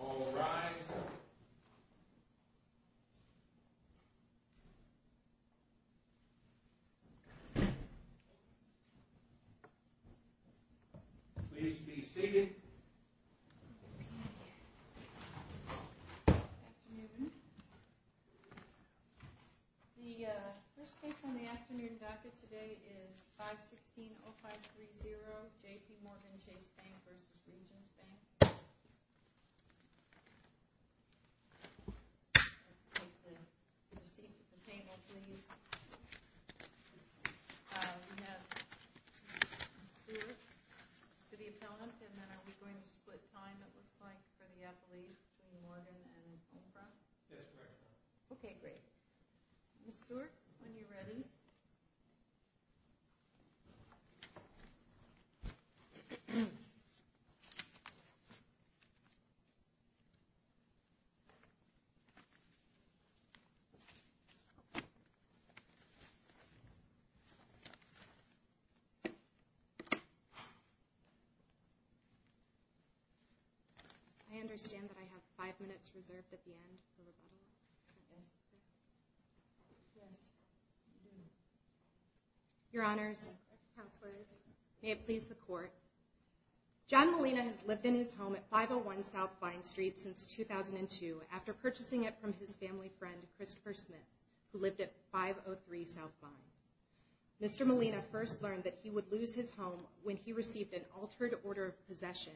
All rise. Please be seated. The first case on the afternoon docket today is 516-0530 J.P. Morgan Chase Bank v. Regions Bank. Take the seat at the table, please. We have Ms. Stewart to the appellant and then are we going to split time it looks like for the appellees between Morgan and Homefront? Yes, correct. Okay, great. Ms. Stewart, when you're ready. I understand that I have five minutes reserved at the end for rebuttal. Yes. Your honors, may it please the court. John Molina has lived in his home at 501 South Vine Street since 2002 after purchasing it from his family friend Christopher Smith, who lived at 503 South Vine. Mr. Molina first learned that he would lose his home when he received an altered order of possession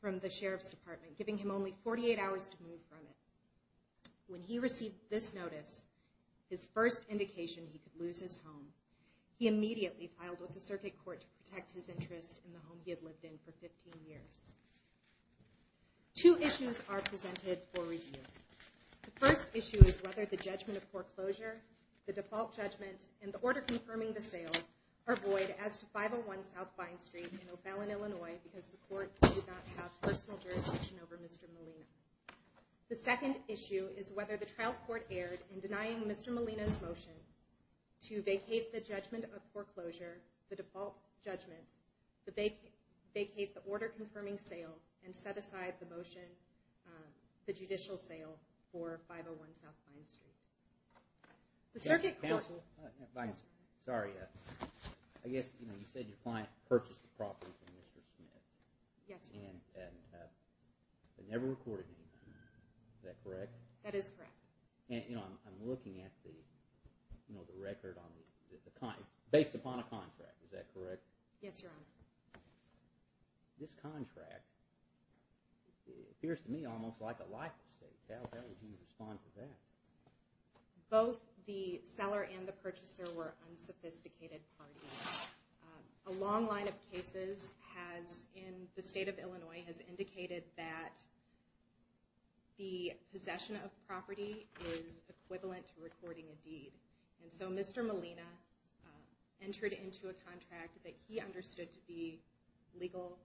from the sheriff's department, giving him only 48 hours to move from it. When he received this notice, his first indication he could lose his home, he immediately filed with the circuit court to protect his interest in the home he had lived in for 15 years. Two issues are presented for review. The first issue is whether the judgment of foreclosure, the default judgment, and the order confirming the sale are void as to 501 South Vine Street in O'Fallon, Illinois, because the court did not have personal jurisdiction over Mr. Molina. The second issue is whether the trial court erred in denying Mr. Molina's motion to vacate the judgment of foreclosure, the default judgment, vacate the order confirming sale, and set aside the judicial sale for 501 South Vine Street. The circuit court… Sorry, I guess you said your client purchased the property from Mr. Smith. Yes, Your Honor. And it never recorded anything. Is that correct? That is correct. And I'm looking at the record based upon a contract. Is that correct? Yes, Your Honor. This contract appears to me almost like a life estate. How would you respond to that? Both the seller and the purchaser were unsophisticated parties. A long line of cases in the state of Illinois has indicated that the possession of property is equivalent to recording a deed. And so Mr. Molina entered into a contract that he understood to be a legal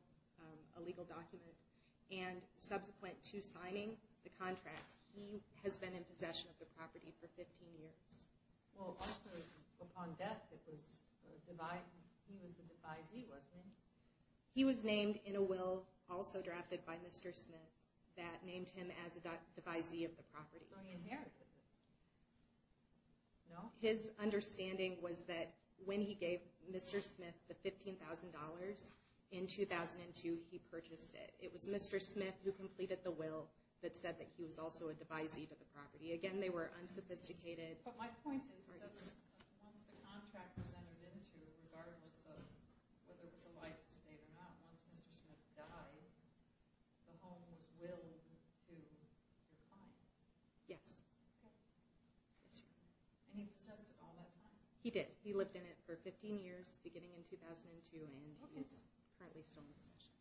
document, and subsequent to signing the contract, he has been in possession of the property for 15 years. Well, also upon death, he was the devisee, wasn't he? He was named in a will, also drafted by Mr. Smith, that named him as a devisee of the property. So he inherited it? No? His understanding was that when he gave Mr. Smith the $15,000, in 2002 he purchased it. It was Mr. Smith who completed the will that said that he was also a devisee to the property. Again, they were unsophisticated parties. Once the contract was entered into, regardless of whether it was a life estate or not, once Mr. Smith died, the home was willed to be bought? Yes. And he possessed it all that time? He did. He lived in it for 15 years, beginning in 2002, and is currently still in possession.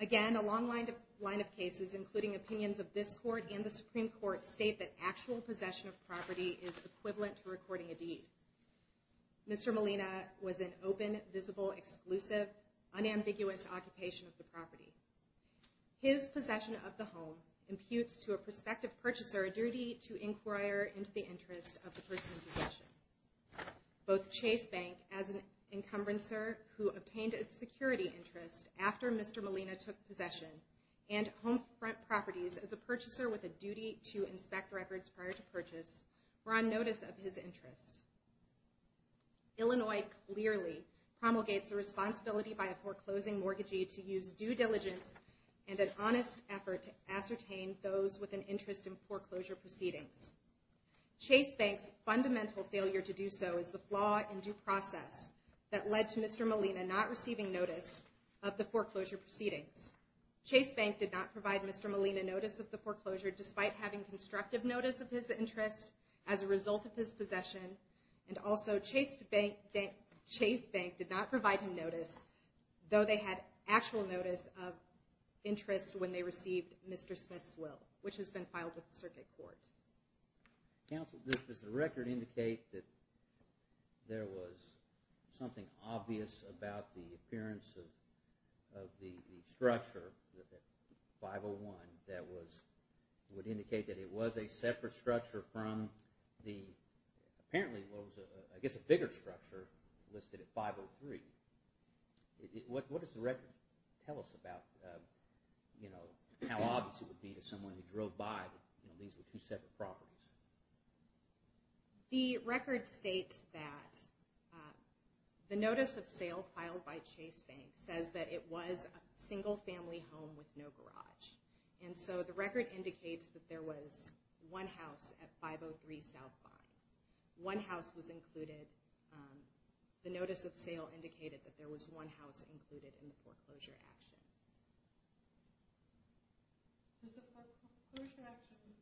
Again, a long line of cases, including opinions of this court and the Supreme Court, state that actual possession of property is equivalent to recording a deed. Mr. Molina was an open, visible, exclusive, unambiguous occupation of the property. His possession of the home imputes to a prospective purchaser a duty to inquire into the interest of the person in possession. Both Chase Bank, as an encumbrancer who obtained its security interest after Mr. Molina took possession, and Homefront Properties, as a purchaser with a duty to inspect records prior to purchase, were on notice of his interest. Illinois clearly promulgates the responsibility by a foreclosing mortgagee to use due diligence and an honest effort to ascertain those with an interest in foreclosure proceedings. Chase Bank's fundamental failure to do so is the flaw in due process that led to Mr. Molina not receiving notice of the foreclosure proceedings. Chase Bank did not provide Mr. Molina notice of the foreclosure, despite having constructive notice of his interest as a result of his possession, and also Chase Bank did not provide him notice, though they had actual notice of interest when they received Mr. Smith's will, which has been filed with the circuit court. Counsel, does the record indicate that there was something obvious about the appearance of the structure, 501, that would indicate that it was a separate structure from the – apparently it was, I guess, a bigger structure listed at 503. What does the record tell us about how obvious it would be to someone who drove by that these were two separate properties? The record states that the notice of sale filed by Chase Bank says that it was a single-family home with no garage. And so the record indicates that there was one house at 503 South Vine. One house was included. The notice of sale indicated that there was one house included in the foreclosure action. Was the foreclosure action –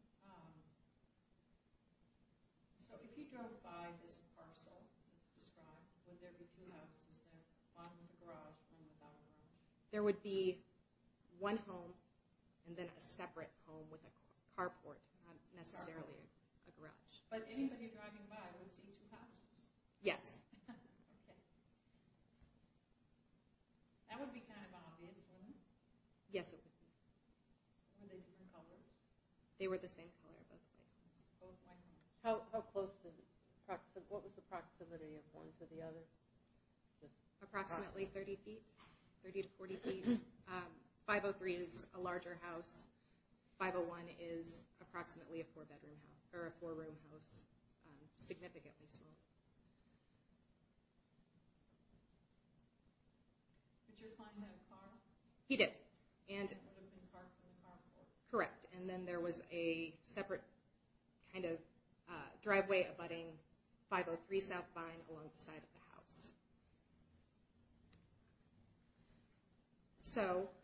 so if you drove by this parcel that's described, would there be two houses there, the bottom of the garage and the bottom of the home? There would be one home and then a separate home with a carport, not necessarily a garage. But anybody driving by would see two houses? Yes. Okay. That would be kind of obvious, wouldn't it? Yes, it would be. Were they the same color? They were the same color, both houses. How close to – what was the proximity of one to the other? Approximately 30 feet, 30 to 40 feet. 503 is a larger house. 501 is approximately a four-bedroom house – or a four-room house, significantly smaller. Did your client have a car? He did. And it would have been parked in the carport? Correct. And then there was a separate kind of driveway abutting 503 South Vine alongside of the house.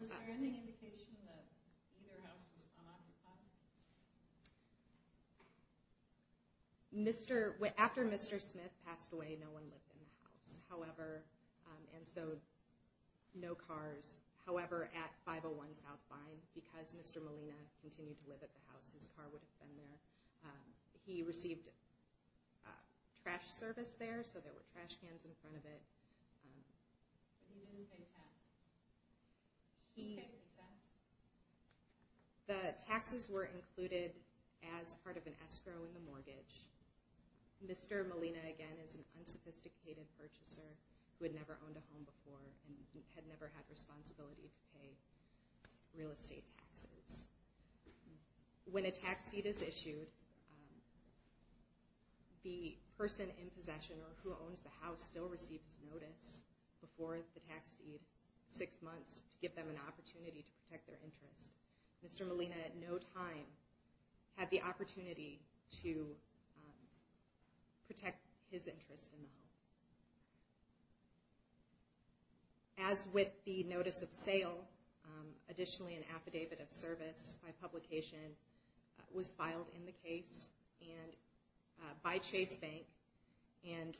Was there any indication that either house was on the property? After Mr. Smith passed away, no one lived in the house. And so no cars. However, at 501 South Vine, because Mr. Molina continued to live at the house, his car would have been there. He received trash service there, so there were trash cans in front of him. He didn't pay tax? He paid the tax? The taxes were included as part of an escrow in the mortgage. Mr. Molina, again, is an unsophisticated purchaser who had never owned a home before and had never had responsibility to pay real estate taxes. When a tax deed is issued, the person in possession or who owns the house still receives notice before the tax deed, six months, to give them an opportunity to protect their interest. Mr. Molina at no time had the opportunity to protect his interest in the home. As with the notice of sale, additionally an affidavit of service by publication was filed in the case by Chase Bank. And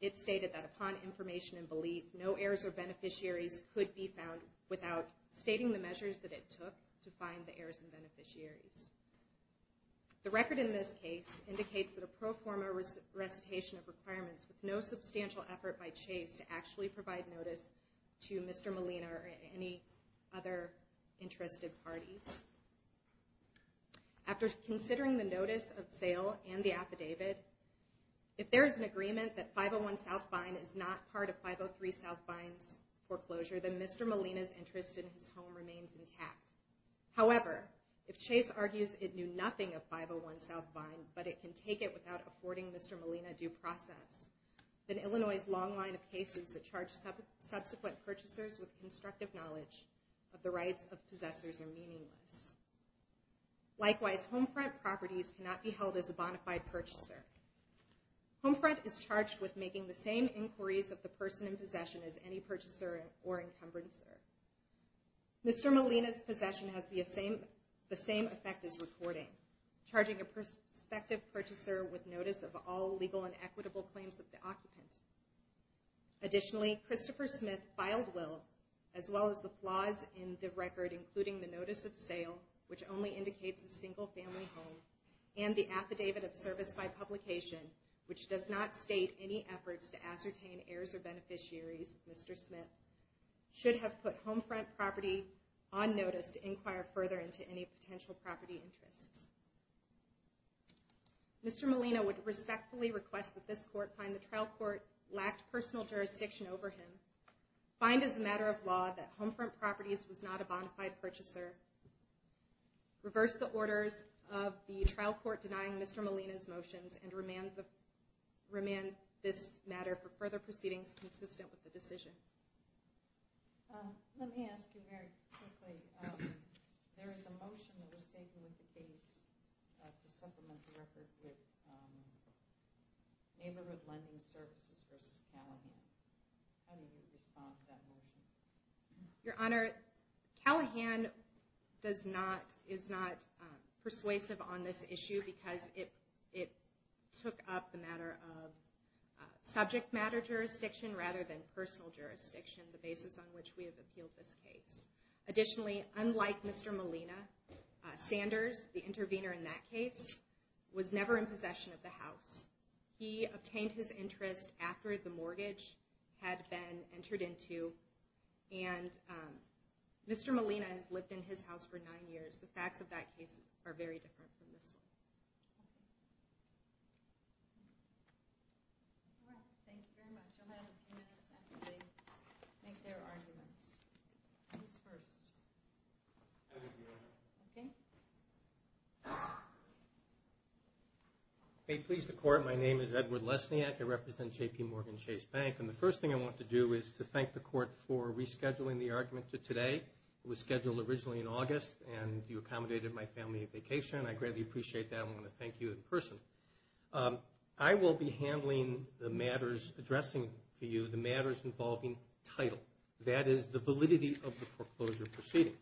it stated that upon information and belief, no heirs or beneficiaries could be found without stating the measures that it took to find the heirs and beneficiaries. The record in this case indicates that a pro forma recitation of requirements with no substantial effort by Chase to actually provide notice to Mr. Molina or any other interested parties. After considering the notice of sale and the affidavit, if there is an agreement that 501 South Vine is not part of 503 South Vine's foreclosure, then Mr. Molina's interest in his home remains intact. However, if Chase argues it knew nothing of 501 South Vine, but it can take it without affording Mr. Molina due process, then Illinois' long line of cases that charge subsequent purchasers with constructive knowledge of the rights of possessors are meaningless. Likewise, Homefront properties cannot be held as a bonafide purchaser. Homefront is charged with making the same inquiries of the person in possession as any purchaser or encumbrancer. Mr. Molina's possession has the same effect as recording, charging a prospective purchaser with notice of all legal and equitable claims of the occupant. Additionally, Christopher Smith filed will, as well as the flaws in the record, including the notice of sale, which only indicates a single family home, and the affidavit of service by publication, which does not state any efforts to ascertain heirs or beneficiaries, Mr. Smith should have put Homefront property on notice to inquire further into any potential property interests. Mr. Molina would respectfully request that this court find the trial court lacked personal jurisdiction over him, find as a matter of law that Homefront properties was not a bonafide purchaser, reverse the orders of the trial court denying Mr. Molina's motions, and remand this matter for further proceedings consistent with the decision. Let me ask you very quickly. There is a motion that was taken with the case to supplement the record with neighborhood lending services versus Callahan. How do you respond to that motion? Your Honor, Callahan is not persuasive on this issue because it took up the matter of subject matter jurisdiction rather than personal jurisdiction, the basis on which we have appealed this case. Additionally, unlike Mr. Molina, Sanders, the intervener in that case, was never in possession of the house. He obtained his interest after the mortgage had been entered into, and Mr. Molina has lived in his house for nine years. The facts of that case are very different from this one. Thank you very much. I'll have a few minutes after they make their arguments. Who's first? I'll go first. Okay. May it please the Court, my name is Edward Lesniak. I represent JPMorgan Chase Bank, and the first thing I want to do is to thank the Court for rescheduling the argument to today. It was scheduled originally in August, and you accommodated my family on vacation. I greatly appreciate that. I want to thank you in person. I will be handling the matters addressing to you, the matters involving title. That is, the validity of the foreclosure proceeding.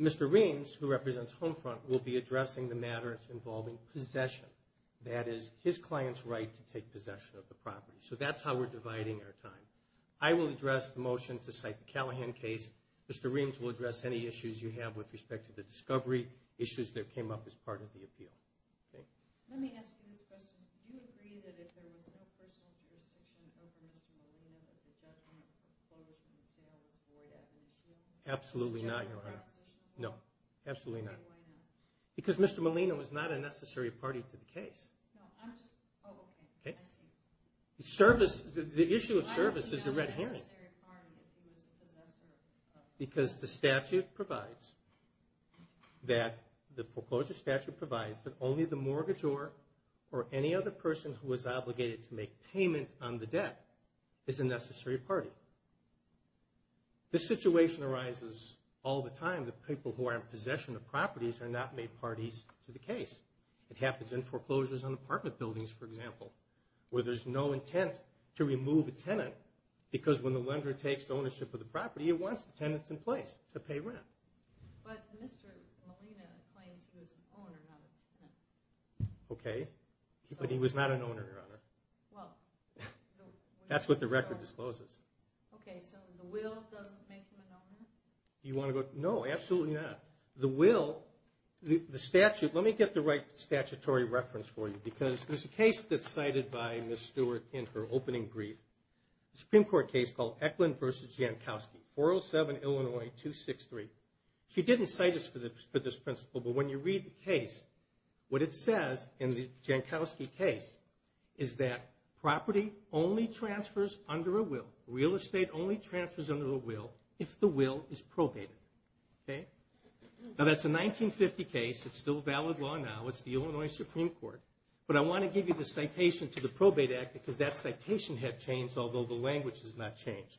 Mr. Reams, who represents Homefront, will be addressing the matters involving possession. That is, his client's right to take possession of the property. So that's how we're dividing our time. I will address the motion to cite the Callahan case. Mr. Reams will address any issues you have with respect to the discovery, issues that came up as part of the appeal. Thank you. Let me ask you this question. Do you agree that if there was no personal jurisdiction over Mr. Molina, that the judgment of foreclosure and sale was void as an issue? Absolutely not, Your Honor. No. Absolutely not. Why not? Because Mr. Molina was not a necessary party to the case. No, I'm just, oh, okay. Okay. I see. The issue of service is a red herring. Why was he not a necessary party if he was a possessor? Because the statute provides that, the foreclosure statute provides, that only the mortgagor or any other person who is obligated to make payment on the debt is a necessary party. This situation arises all the time that people who are in possession of properties are not made parties to the case. It happens in foreclosures on apartment buildings, for example, where there's no intent to remove a tenant because when the lender takes ownership of the property, it wants the tenants in place to pay rent. But Mr. Molina claims he was an owner, not a tenant. Okay. But he was not an owner, Your Honor. Well. That's what the record discloses. Okay. So the will doesn't make him an owner? You want to go, no, absolutely not. The will, the statute, let me get the right statutory reference for you because there's a case that's cited by Ms. Stewart in her opening brief, a Supreme Court case called Eklund v. Jankowski, 407 Illinois 263. She didn't cite us for this principle, but when you read the case, what it says in the Jankowski case is that property only transfers under a will, real estate only transfers under a will if the will is probated. Okay. Now that's a 1950 case. It's still valid law now. It's the Illinois Supreme Court. But I want to give you the citation to the Probate Act because that citation had changed, although the language has not changed.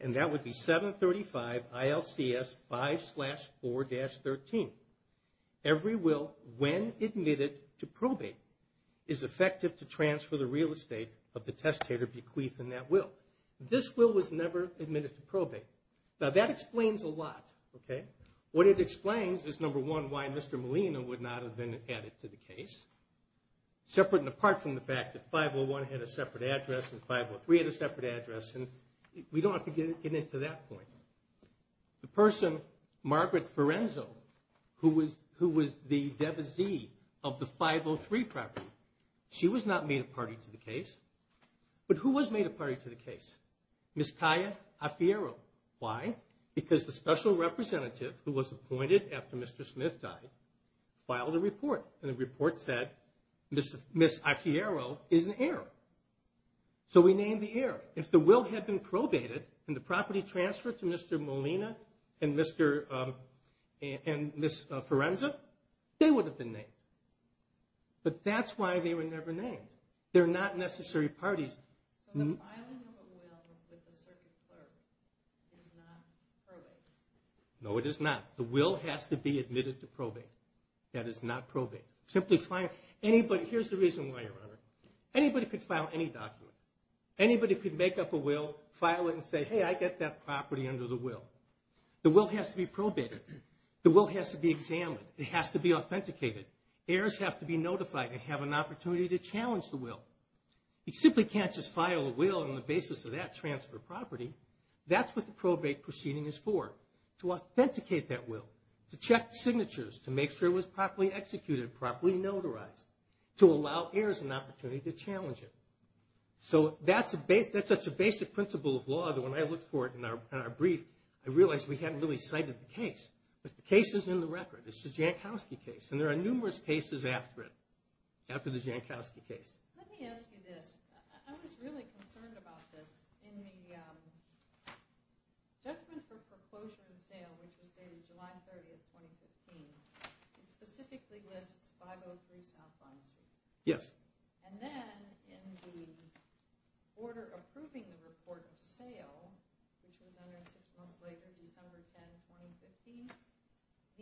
And that would be 735 ILCS 5-4-13. Every will, when admitted to probate, is effective to transfer the real estate of the testator bequeathed in that will. This will was never admitted to probate. Now that explains a lot. Okay. What it explains is, number one, why Mr. Molina would not have been added to the case, separate and apart from the fact that 501 had a separate address and 503 had a separate address. And we don't have to get into that point. The person, Margaret Firenzo, who was the devisee of the 503 property, she was not made a party to the case. But who was made a party to the case? Ms. Taya Alfiero. Why? Because the special representative, who was appointed after Mr. Smith died, filed a report, and the report said Ms. Alfiero is an heir. So we named the heir. If the will had been probated and the property transferred to Mr. Molina and Ms. Firenzo, they would have been named. But that's why they were never named. They're not necessary parties. So the filing of a will with the circuit clerk is not probated? No, it is not. The will has to be admitted to probate. That is not probate. Here's the reason why, Your Honor. Anybody could file any document. Anybody could make up a will, file it, and say, hey, I get that property under the will. The will has to be probated. The will has to be examined. It has to be authenticated. Heirs have to be notified and have an opportunity to challenge the will. You simply can't just file a will on the basis of that transfer of property. That's what the probate proceeding is for, to authenticate that will, to check the signatures, to make sure it was properly executed, properly notarized, to allow heirs an opportunity to challenge it. So that's such a basic principle of law that when I looked for it in our brief, I realized we hadn't really cited the case. But the case is in the record. It's the Jankowski case, and there are numerous cases after it, after the Jankowski case. Let me ask you this. I was really concerned about this. In the judgment for foreclosure and sale, which was dated July 30th, 2015, it specifically lists 503 South Bond Street. Yes. And then in the order approving the report of sale, which was entered six months later, December 10, 2015,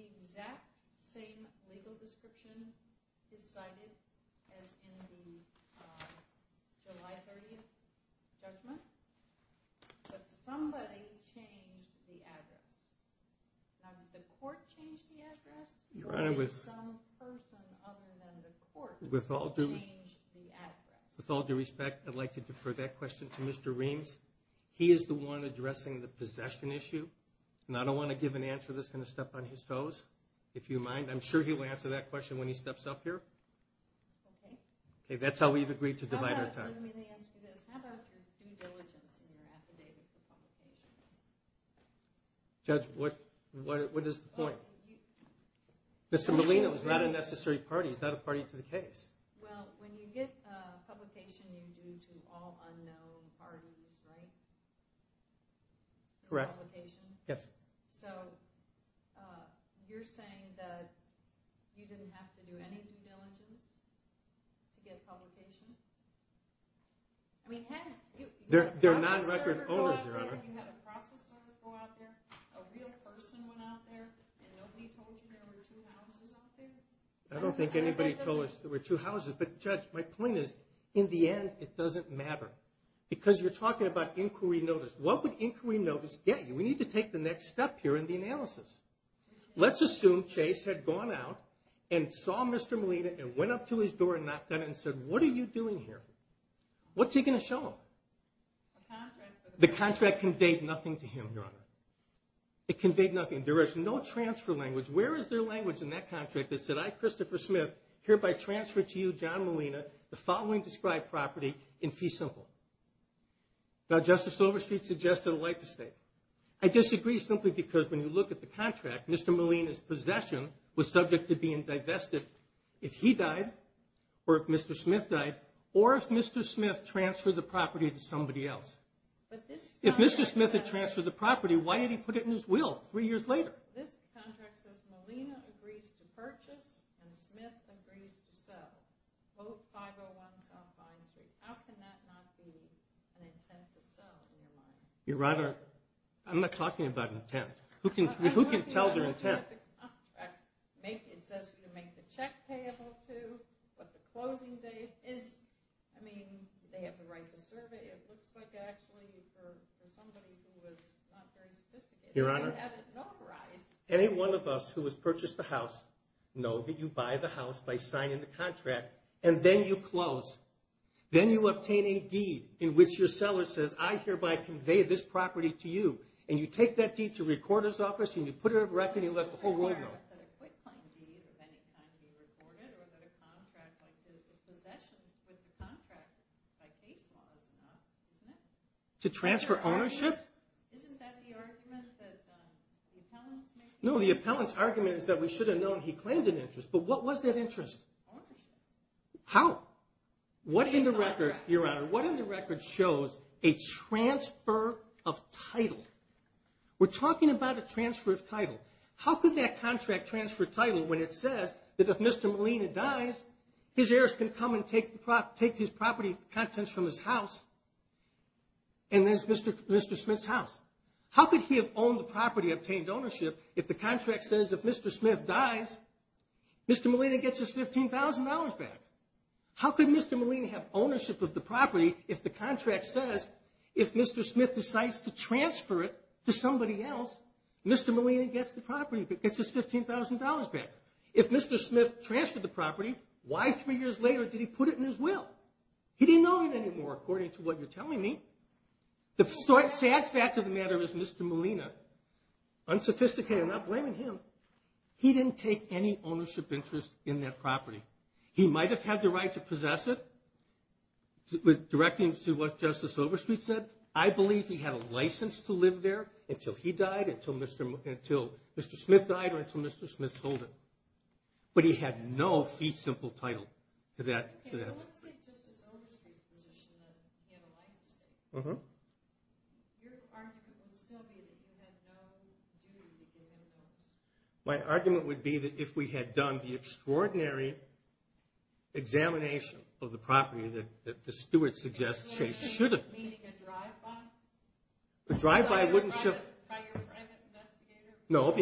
the exact same legal description is cited as in the July 30th judgment, but somebody changed the address. Now, did the court change the address, or did some person other than the court change the address? With all due respect, I'd like to defer that question to Mr. Reams. He is the one addressing the possession issue, and I don't want to give an answer that's going to step on his toes, if you mind. I'm sure he'll answer that question when he steps up here. Okay. Okay, that's how we've agreed to divide our time. Let me ask you this. How about your due diligence and your affidavit for publication? Judge, what is the point? Mr. Molina was not a necessary party. He's not a party to the case. Well, when you get a publication, you do to all unknown parties, right? Correct. For publication? Yes. So you're saying that you didn't have to do any due diligence to get publication? They're non-record owners, Your Honor. You had a process server go out there, a real person went out there, and nobody told you there were two houses out there? I don't think anybody told us there were two houses. But, Judge, my point is, in the end, it doesn't matter. Because you're talking about inquiry notice. What would inquiry notice get you? We need to take the next step here in the analysis. Let's assume Chase had gone out and saw Mr. Molina and went up to his door and knocked on it and said, What are you doing here? What's he going to show him? The contract conveyed nothing to him, Your Honor. It conveyed nothing. There is no transfer language. Where is there language in that contract that said, I, Christopher Smith, hereby transfer to you, John Molina, the following described property in fee simple? Now, Justice Silverstreet suggested a life estate. I disagree simply because when you look at the contract, Mr. Molina's possession was subject to being divested if he died or if Mr. Smith died or if Mr. Smith transferred the property to somebody else. If Mr. Smith had transferred the property, why did he put it in his will three years later? This contract says Molina agrees to purchase and Smith agrees to sell. Vote 501 South Vine Street. How can that not be an intent to sell in your mind? Your Honor, I'm not talking about intent. Who can tell their intent? It says who to make the check payable to, what the closing date is. I mean, do they have the right to serve it? It looks like actually for somebody who was not very sophisticated, they had it notarized. Any one of us who has purchased the house know that you buy the house by signing the contract and then you close. Then you obtain a deed in which your seller says, I hereby convey this property to you, and you take that deed to recorder's office and you put it on record and you let the whole world know. I'm not aware that a quitclaim deed of any kind can be recorded or that a contract like the possession with the contract by case law is enough. Isn't it? To transfer ownership? Isn't that the argument that the appellants make? No, the appellant's argument is that we should have known he claimed an interest. But what was that interest? Ownership. How? What in the record, Your Honor, what in the record shows a transfer of title? We're talking about a transfer of title. How could that contract transfer title when it says that if Mr. Molina dies, his heirs can come and take his property contents from his house and there's Mr. Smith's house? How could he have owned the property, obtained ownership, if the contract says if Mr. Smith dies, Mr. Molina gets his $15,000 back? How could Mr. Molina have ownership of the property if the contract says if Mr. Smith decides to transfer it to somebody else, Mr. Molina gets the property, gets his $15,000 back? If Mr. Smith transferred the property, why three years later did he put it in his will? He didn't own it anymore according to what you're telling me. The sad fact of the matter is Mr. Molina, unsophisticated, I'm not blaming him, he didn't take any ownership interest in that property. He might have had the right to possess it, directing it to what Justice Overstreet said. I believe he had a license to live there until he died, until Mr. Smith died, or until Mr. Smith sold it. But he had no fee simple title to that property. Well, let's take Justice Overstreet's position that he had a license to it. Your argument would still be that he had no duty to give him ownership. My argument would be that if we had done the extraordinary examination of the property that the steward suggests they should have done. Meaning a drive-by? A drive-by wouldn't show... By your private investigator? No,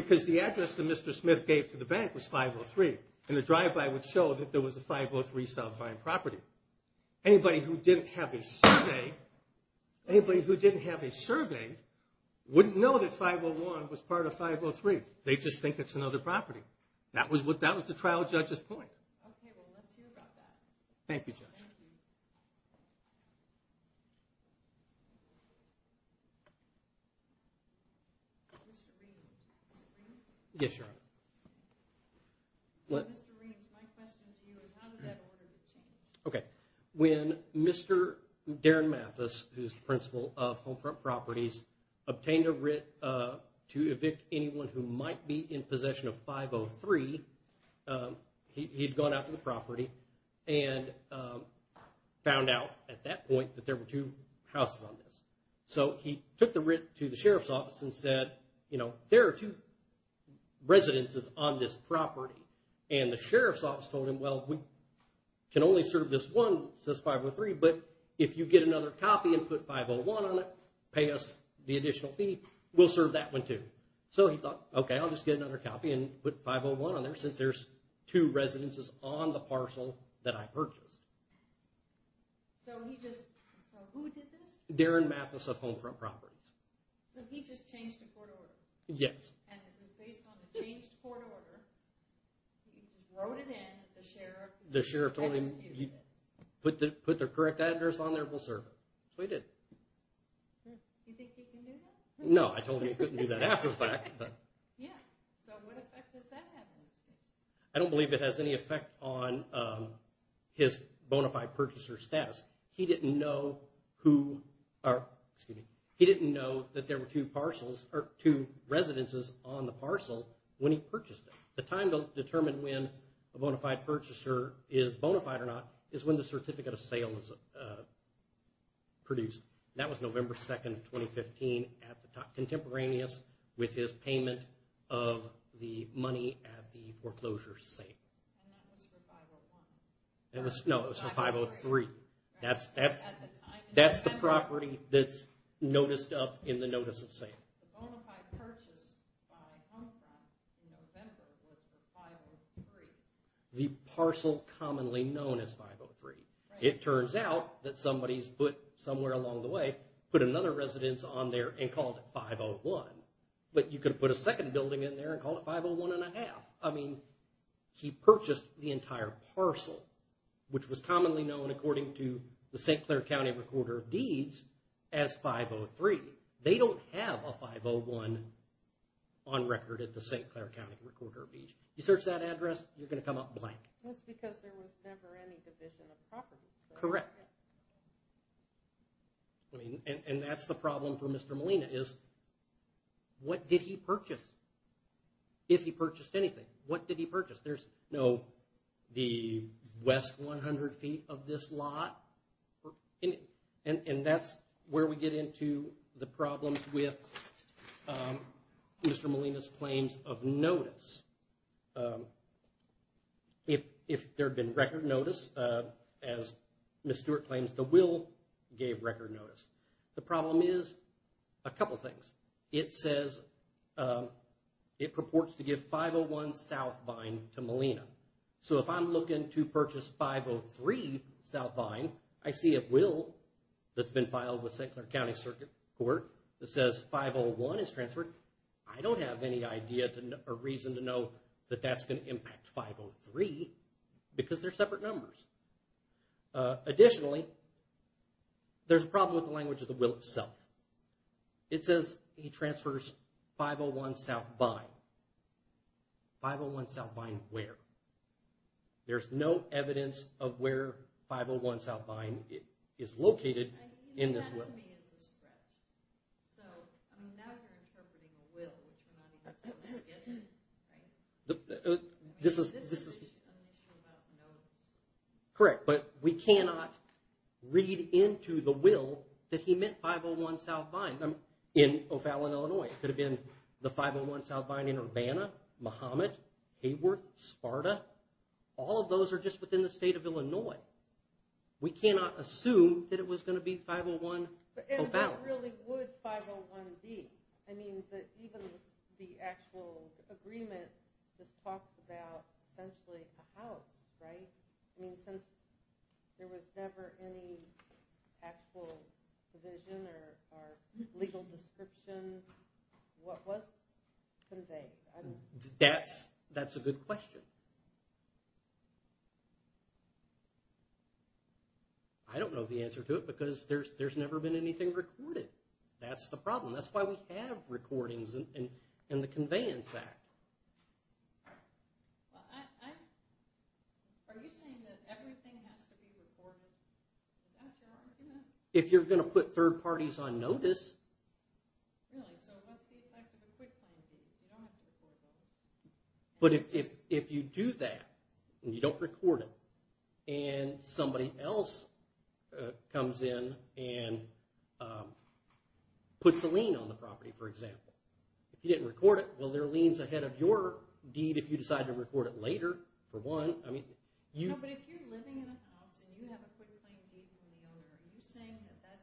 because the address that Mr. Smith gave to the bank was 503, and the drive-by would show that there was a 503 South Vine property. Anybody who didn't have a survey wouldn't know that 501 was part of 503. They'd just think it's another property. That was the trial judge's point. Okay, well, let's hear about that. Thank you, Judge. Thank you. Mr. Reams, is it Reams? Yes, Your Honor. Mr. Reams, my question to you is how did that order get changed? Okay, when Mr. Darren Mathis, who's the principal of Homefront Properties, obtained a writ to evict anyone who might be in possession of 503, he'd gone out to the property and found out at that point that there were two houses on this. So he took the writ to the sheriff's office and said, you know, there are two residences on this property, and the sheriff's office told him, well, we can only serve this one that says 503, but if you get another copy and put 501 on it, pay us the additional fee, we'll serve that one too. So he thought, okay, I'll just get another copy and put 501 on there since there's two residences on the parcel that I purchased. So he just, so who did this? Darren Mathis of Homefront Properties. So he just changed the court order? Yes. And it was based on the changed court order. He wrote it in, the sheriff executed it. The sheriff told him, put the correct address on there, we'll serve it. So he did. Do you think he can do that? No, I told him he couldn't do that after the fact. Yeah, so what effect does that have? I don't believe it has any effect on his bona fide purchaser status. He didn't know who, or excuse me, he didn't know that there were two parcels, or two residences on the parcel when he purchased it. The time to determine when a bona fide purchaser is bona fide or not is when the certificate of sale is produced. That was November 2, 2015 at the time, contemporaneous with his payment of the money at the foreclosure sale. And that was for 501? No, it was for 503. That's the property that's noticed up in the notice of sale. The bona fide purchase by Homefront in November was for 503. The parcel commonly known as 503. It turns out that somebody somewhere along the way put another residence on there and called it 501. But you can put a second building in there and call it 501 and a half. I mean, he purchased the entire parcel, which was commonly known according to the St. Clair County Recorder of Deeds as 503. They don't have a 501 on record at the St. Clair County Recorder of Deeds. You search that address, you're going to come up blank. That's because there was never any division of property. Correct. And that's the problem for Mr. Molina is what did he purchase? If he purchased anything, what did he purchase? There's no the west 100 feet of this lot. And that's where we get into the problems with Mr. Molina's claims of notice. If there had been record notice, as Ms. Stewart claims, the will gave record notice. The problem is a couple things. It says it purports to give 501 South Vine to Molina. So if I'm looking to purchase 503 South Vine, I see a will that's been filed with St. Clair County Circuit Court that says 501 is transferred. I don't have any idea or reason to know that that's going to impact 503 because they're separate numbers. Additionally, there's a problem with the language of the will itself. It says he transfers 501 South Vine. 501 South Vine where? There's no evidence of where 501 South Vine is located in this will. And that to me is a threat. So now you're interpreting a will, which we're not even supposed to get into. This is an issue about notice. Correct, but we cannot read into the will that he meant 501 South Vine in O'Fallon, Illinois. It could have been the 501 South Vine in Urbana, Mahomet, Hayworth, Sparta. All of those are just within the state of Illinois. We cannot assume that it was going to be 501 O'Fallon. And what really would 501 be? I mean, even the actual agreement just talks about essentially a house, right? I mean, since there was never any actual provision or legal description, what was conveyed? That's a good question. I don't know the answer to it because there's never been anything recorded. That's the problem. That's why we have recordings in the Conveyance Act. Are you saying that everything has to be recorded? Is that your argument? If you're going to put third parties on notice. Really, so what's the effect of a quick plan B? You don't have to record that. But if you do that, and you don't record it, and somebody else comes in and puts a lien on the property, for example. If you didn't record it, well, there are liens ahead of your deed if you decide to record it later, for one. No, but if you're living in a house and you have a quick plan B from the owner, are you saying that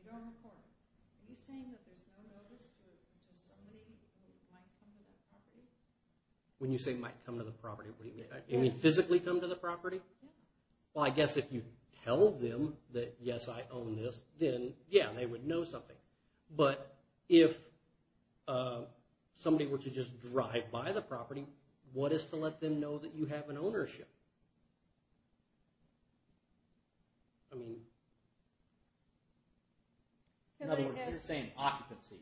you don't record it? Are you saying that there's no notice to somebody that might come to that property? When you say might come to the property, what do you mean? You mean physically come to the property? Well, I guess if you tell them that, yes, I own this, then, yeah, they would know something. But if somebody were to just drive by the property, what is to let them know that you have an ownership? I mean, in other words, it's the same occupancy.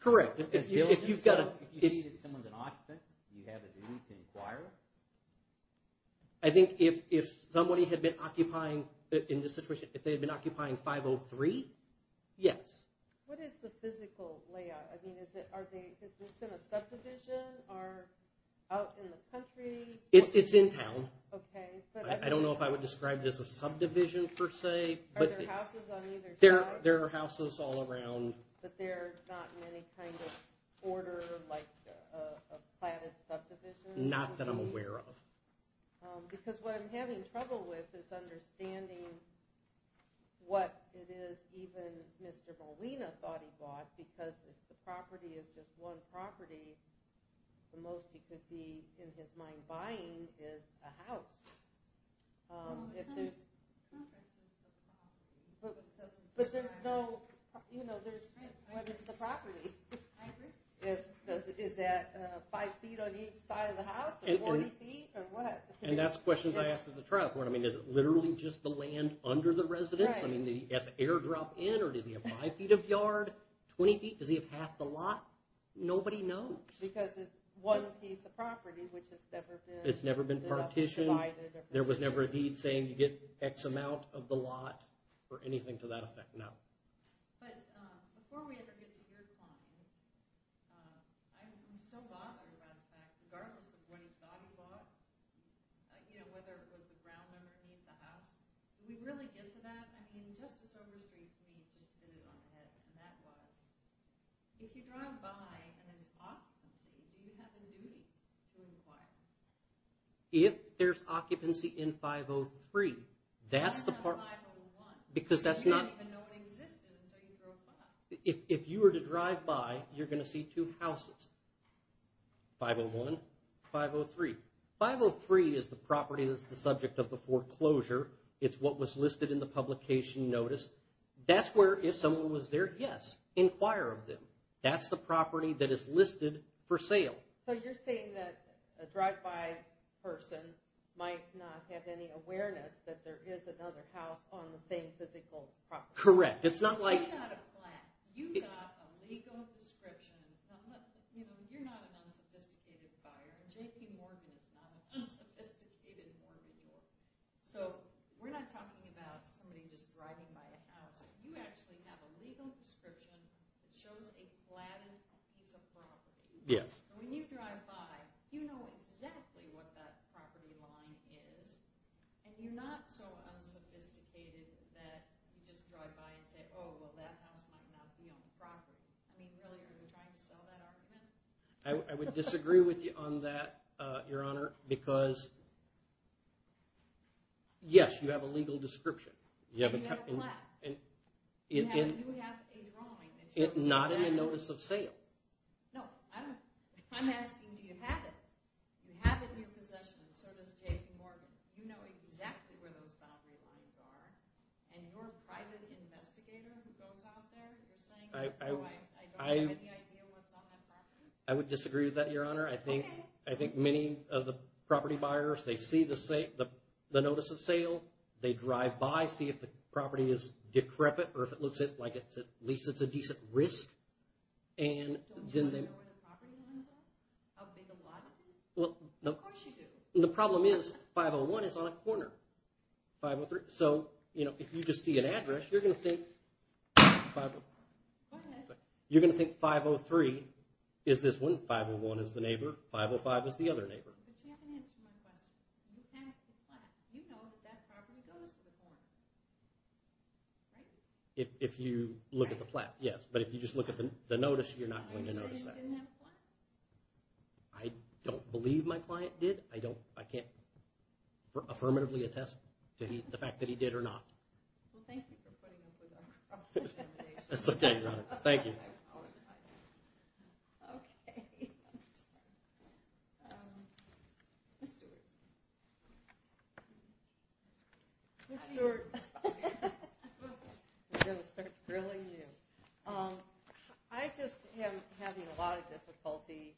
Correct. If you see that someone's an occupant, do you have a duty to inquire? I think if somebody had been occupying, in this situation, if they had been occupying 503, yes. What is the physical layout? Is this in a subdivision or out in the country? It's in town. I don't know if I would describe this as a subdivision, per se. Are there houses on either side? There are houses all around. But they're not in any kind of order, like a platted subdivision? Not that I'm aware of. Because what I'm having trouble with is understanding what it is that even Mr. Molina thought he bought, because if the property is just one property, the most he could be, in his mind, buying is a house. Is that five feet on each side of the house, or 40 feet, or what? And that's the question I asked at the trial court. I mean, is it literally just the land under the residence? I mean, does the air drop in, or does he have five feet of yard, 20 feet? Does he have half the lot? Nobody knows. Because it's one piece of property, which has never been divided. It's never been partitioned. There was never a deed saying you get X amount of the lot, or anything to that effect, no. But before we ever get to your claim, I'm so bothered about the fact that regardless of what he thought he bought, whether it was the ground underneath the house, do we really get to that? I mean, Justice Overstreet, to me, just hit it on the head. And that was, if you drive by and it's occupancy, do you have a duty to inquire? If there's occupancy in 503, that's the part... Why not 501? Because that's not... You didn't even know it existed until you drove by. If you were to drive by, you're going to see two houses. 501, 503. 503 is the property that's the subject of the foreclosure. It's what was listed in the publication notice. That's where, if someone was there, yes, inquire of them. That's the property that is listed for sale. So you're saying that a drive-by person might not have any awareness that there is another house on the same physical property. Correct. It's not like... But you got a plan. You got a legal description. You're not an unsophisticated buyer. J.P. Morgan is not an unsophisticated mortgage buyer. So we're not talking about somebody just driving by a house. You actually have a legal description that shows a flat piece of property. Yes. So when you drive by, you know exactly what that property line is, and you're not so unsophisticated that you just drive by and say, oh, well, that house might not be on the property. I mean, really, are you trying to sell that argument? I would disagree with you on that, Your Honor, because, yes, you have a legal description. You have a plan. You have a drawing that shows exactly. Not in the notice of sale. No. I'm asking, do you have it? You have it in your possession, and so does J.P. Morgan. You know exactly where those boundary lines are, and your private investigator who goes out there is saying, I don't have any idea what's on that property. I would disagree with that, Your Honor. Okay. I think many of the property buyers, they see the notice of sale. They drive by, see if the property is decrepit or if it looks like at least it's a decent risk. Don't you want to know where the property line is at? How big a lot is it? Of course you do. The problem is 501 is on a corner. So, you know, if you just see an address, you're going to think 503 is this one. 501 is the neighbor. 505 is the other neighbor. But you haven't answered my question. You have the plan. You know that that property goes to the foreman, right? If you look at the plan, yes. But if you just look at the notice, you're not going to notice that. Are you saying you didn't have a plan? I don't believe my client did. I can't affirmatively attest to the fact that he did or not. Well, thank you for putting up with our cross-examination. That's okay, Your Honor. Thank you. Okay. Ms. Stewart. Ms. Stewart. I'm going to start grilling you. I just am having a lot of difficulty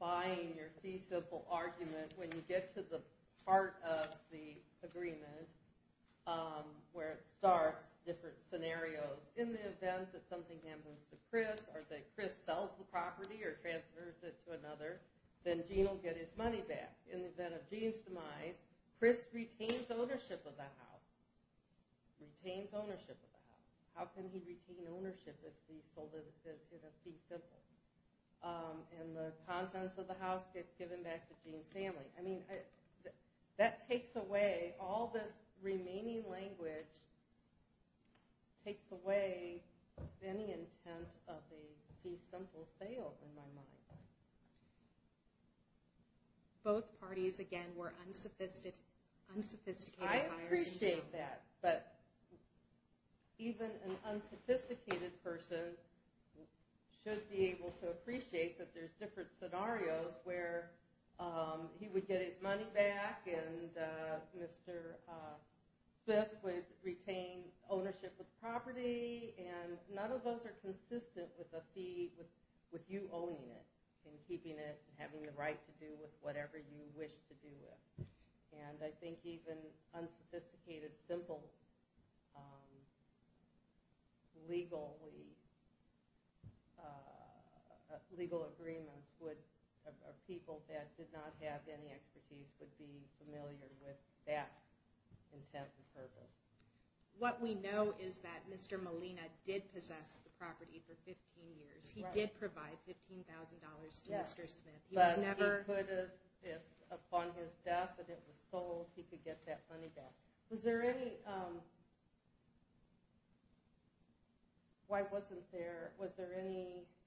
buying your feasible argument when you get to the part of the agreement where it starts, different scenarios. In the event that something happens to Chris or that Chris sells the property or transfers it to another, then Gene will get his money back. In the event of Gene's demise, Chris retains ownership of the house. Retains ownership of the house. How can he retain ownership if he sold it at a fee simple? And the contents of the house get given back to Gene's family. I mean, that takes away all this remaining language, takes away any intent of a fee simple sale in my mind. I appreciate that, but even an unsophisticated person should be able to appreciate that there's different scenarios where he would get his money back and Mr. Smith would retain ownership of the property, and none of those are consistent with a fee with you owning it and keeping it and having the right to do with whatever you wish to do with. And I think even unsophisticated, simple legal agreements of people that did not have any expertise would be familiar with that intent and purpose. What we know is that Mr. Molina did possess the property for 15 years. He did provide $15,000 to Mr. Smith. But upon his death and it was sold, he could get that money back. Was there any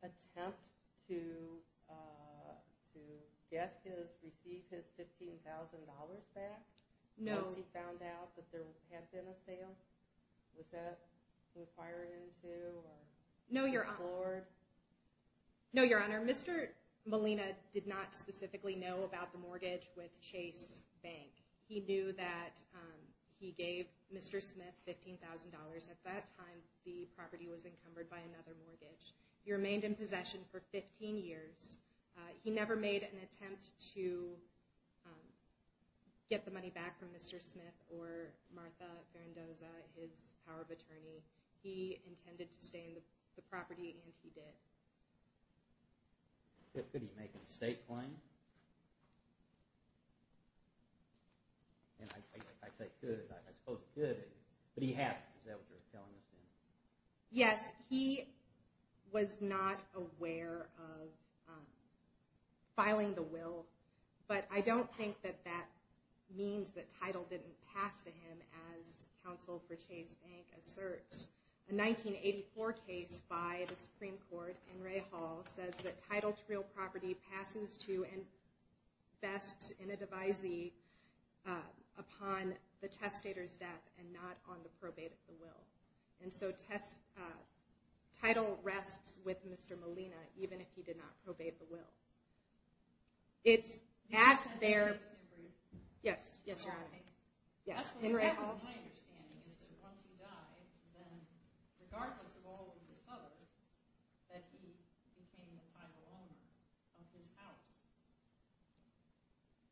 attempt to get his, receive his $15,000 back once he found out that there had been a sale? Was that inquired into or explored? No, Your Honor. Mr. Molina did not specifically know about the mortgage with Chase Bank. He knew that he gave Mr. Smith $15,000. At that time, the property was encumbered by another mortgage. He remained in possession for 15 years. He never made an attempt to get the money back from Mr. Smith or Martha Ferrandoza, his power of attorney. He intended to stay in the property and he did. Could he make a state claim? And I say could, I suppose could, but he has to. Is that what you're telling us? Yes. He was not aware of filing the will. But I don't think that that means that title didn't pass to him, as counsel for Chase Bank asserts. A 1984 case by the Supreme Court, In re Hall, says that title to real property passes to and bests in a devisee upon the testator's death and not on the probate of the will. And so title rests with Mr. Molina, even if he did not probate the will. It's at their. Yes. Yes, Your Honor. Yes. In re Hall. That was my understanding is that once he died, then regardless of all of this other, that he became the title owner of his house.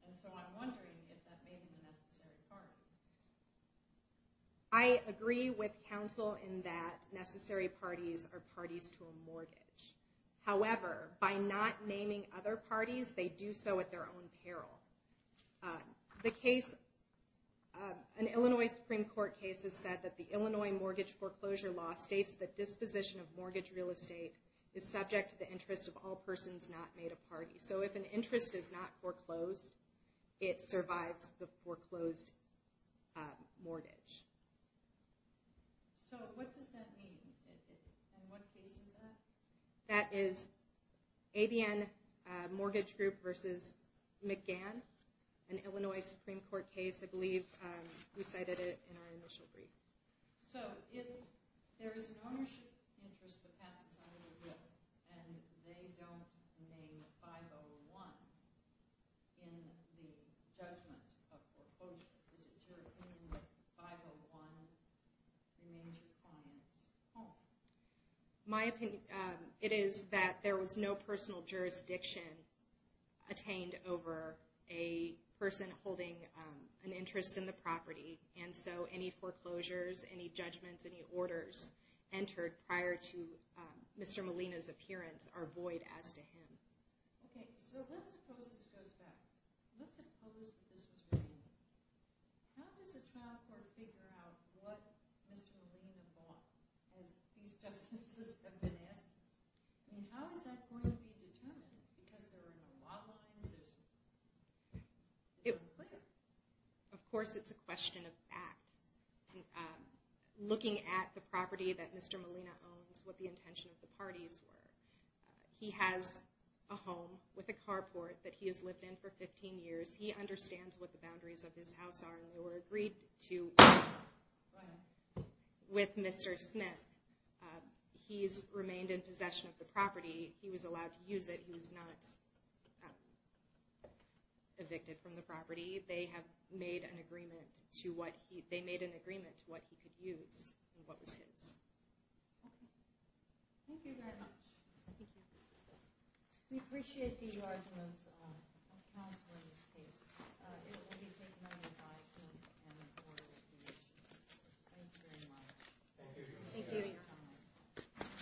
And so I'm wondering if that made him a necessary party. I agree with counsel in that necessary parties are parties to a mortgage. However, by not naming other parties, they do so at their own peril. The case, an Illinois Supreme Court case has said that the Illinois mortgage foreclosure law states that disposition of mortgage real estate is subject to the interest of all persons not made a party. So if an interest is not foreclosed, it survives the foreclosed mortgage. So what does that mean? And what case is that? That is ABN Mortgage Group versus McGann, an Illinois Supreme Court case. I believe we cited it in our initial brief. So if there is an ownership interest that passes out of the will, and they don't name 501 in the judgment of foreclosure, is it your opinion that 501 remains your client's home? My opinion, it is that there was no personal jurisdiction attained over a person holding an interest in the property, and so any foreclosures, any judgments, any orders entered prior to Mr. Molina's appearance are void as to him. Okay, so let's suppose this goes back. Let's suppose that this was regular. How does a trial court figure out what Mr. Molina bought, as these justices have been asking? I mean, how is that going to be determined? Because there are no law lines? Of course it's a question of fact. Looking at the property that Mr. Molina owns, what the intention of the parties were. He has a home with a carport that he has lived in for 15 years. He understands what the boundaries of his house are, and they were agreed to with Mr. Smith. He's remained in possession of the property. He was allowed to use it. He was not evicted from the property. They have made an agreement to what he could use and what was his. Thank you very much. Thank you. We appreciate the arguments of counsel in this case. It will be taken under advisement and reported to the agency. Thank you very much. Thank you.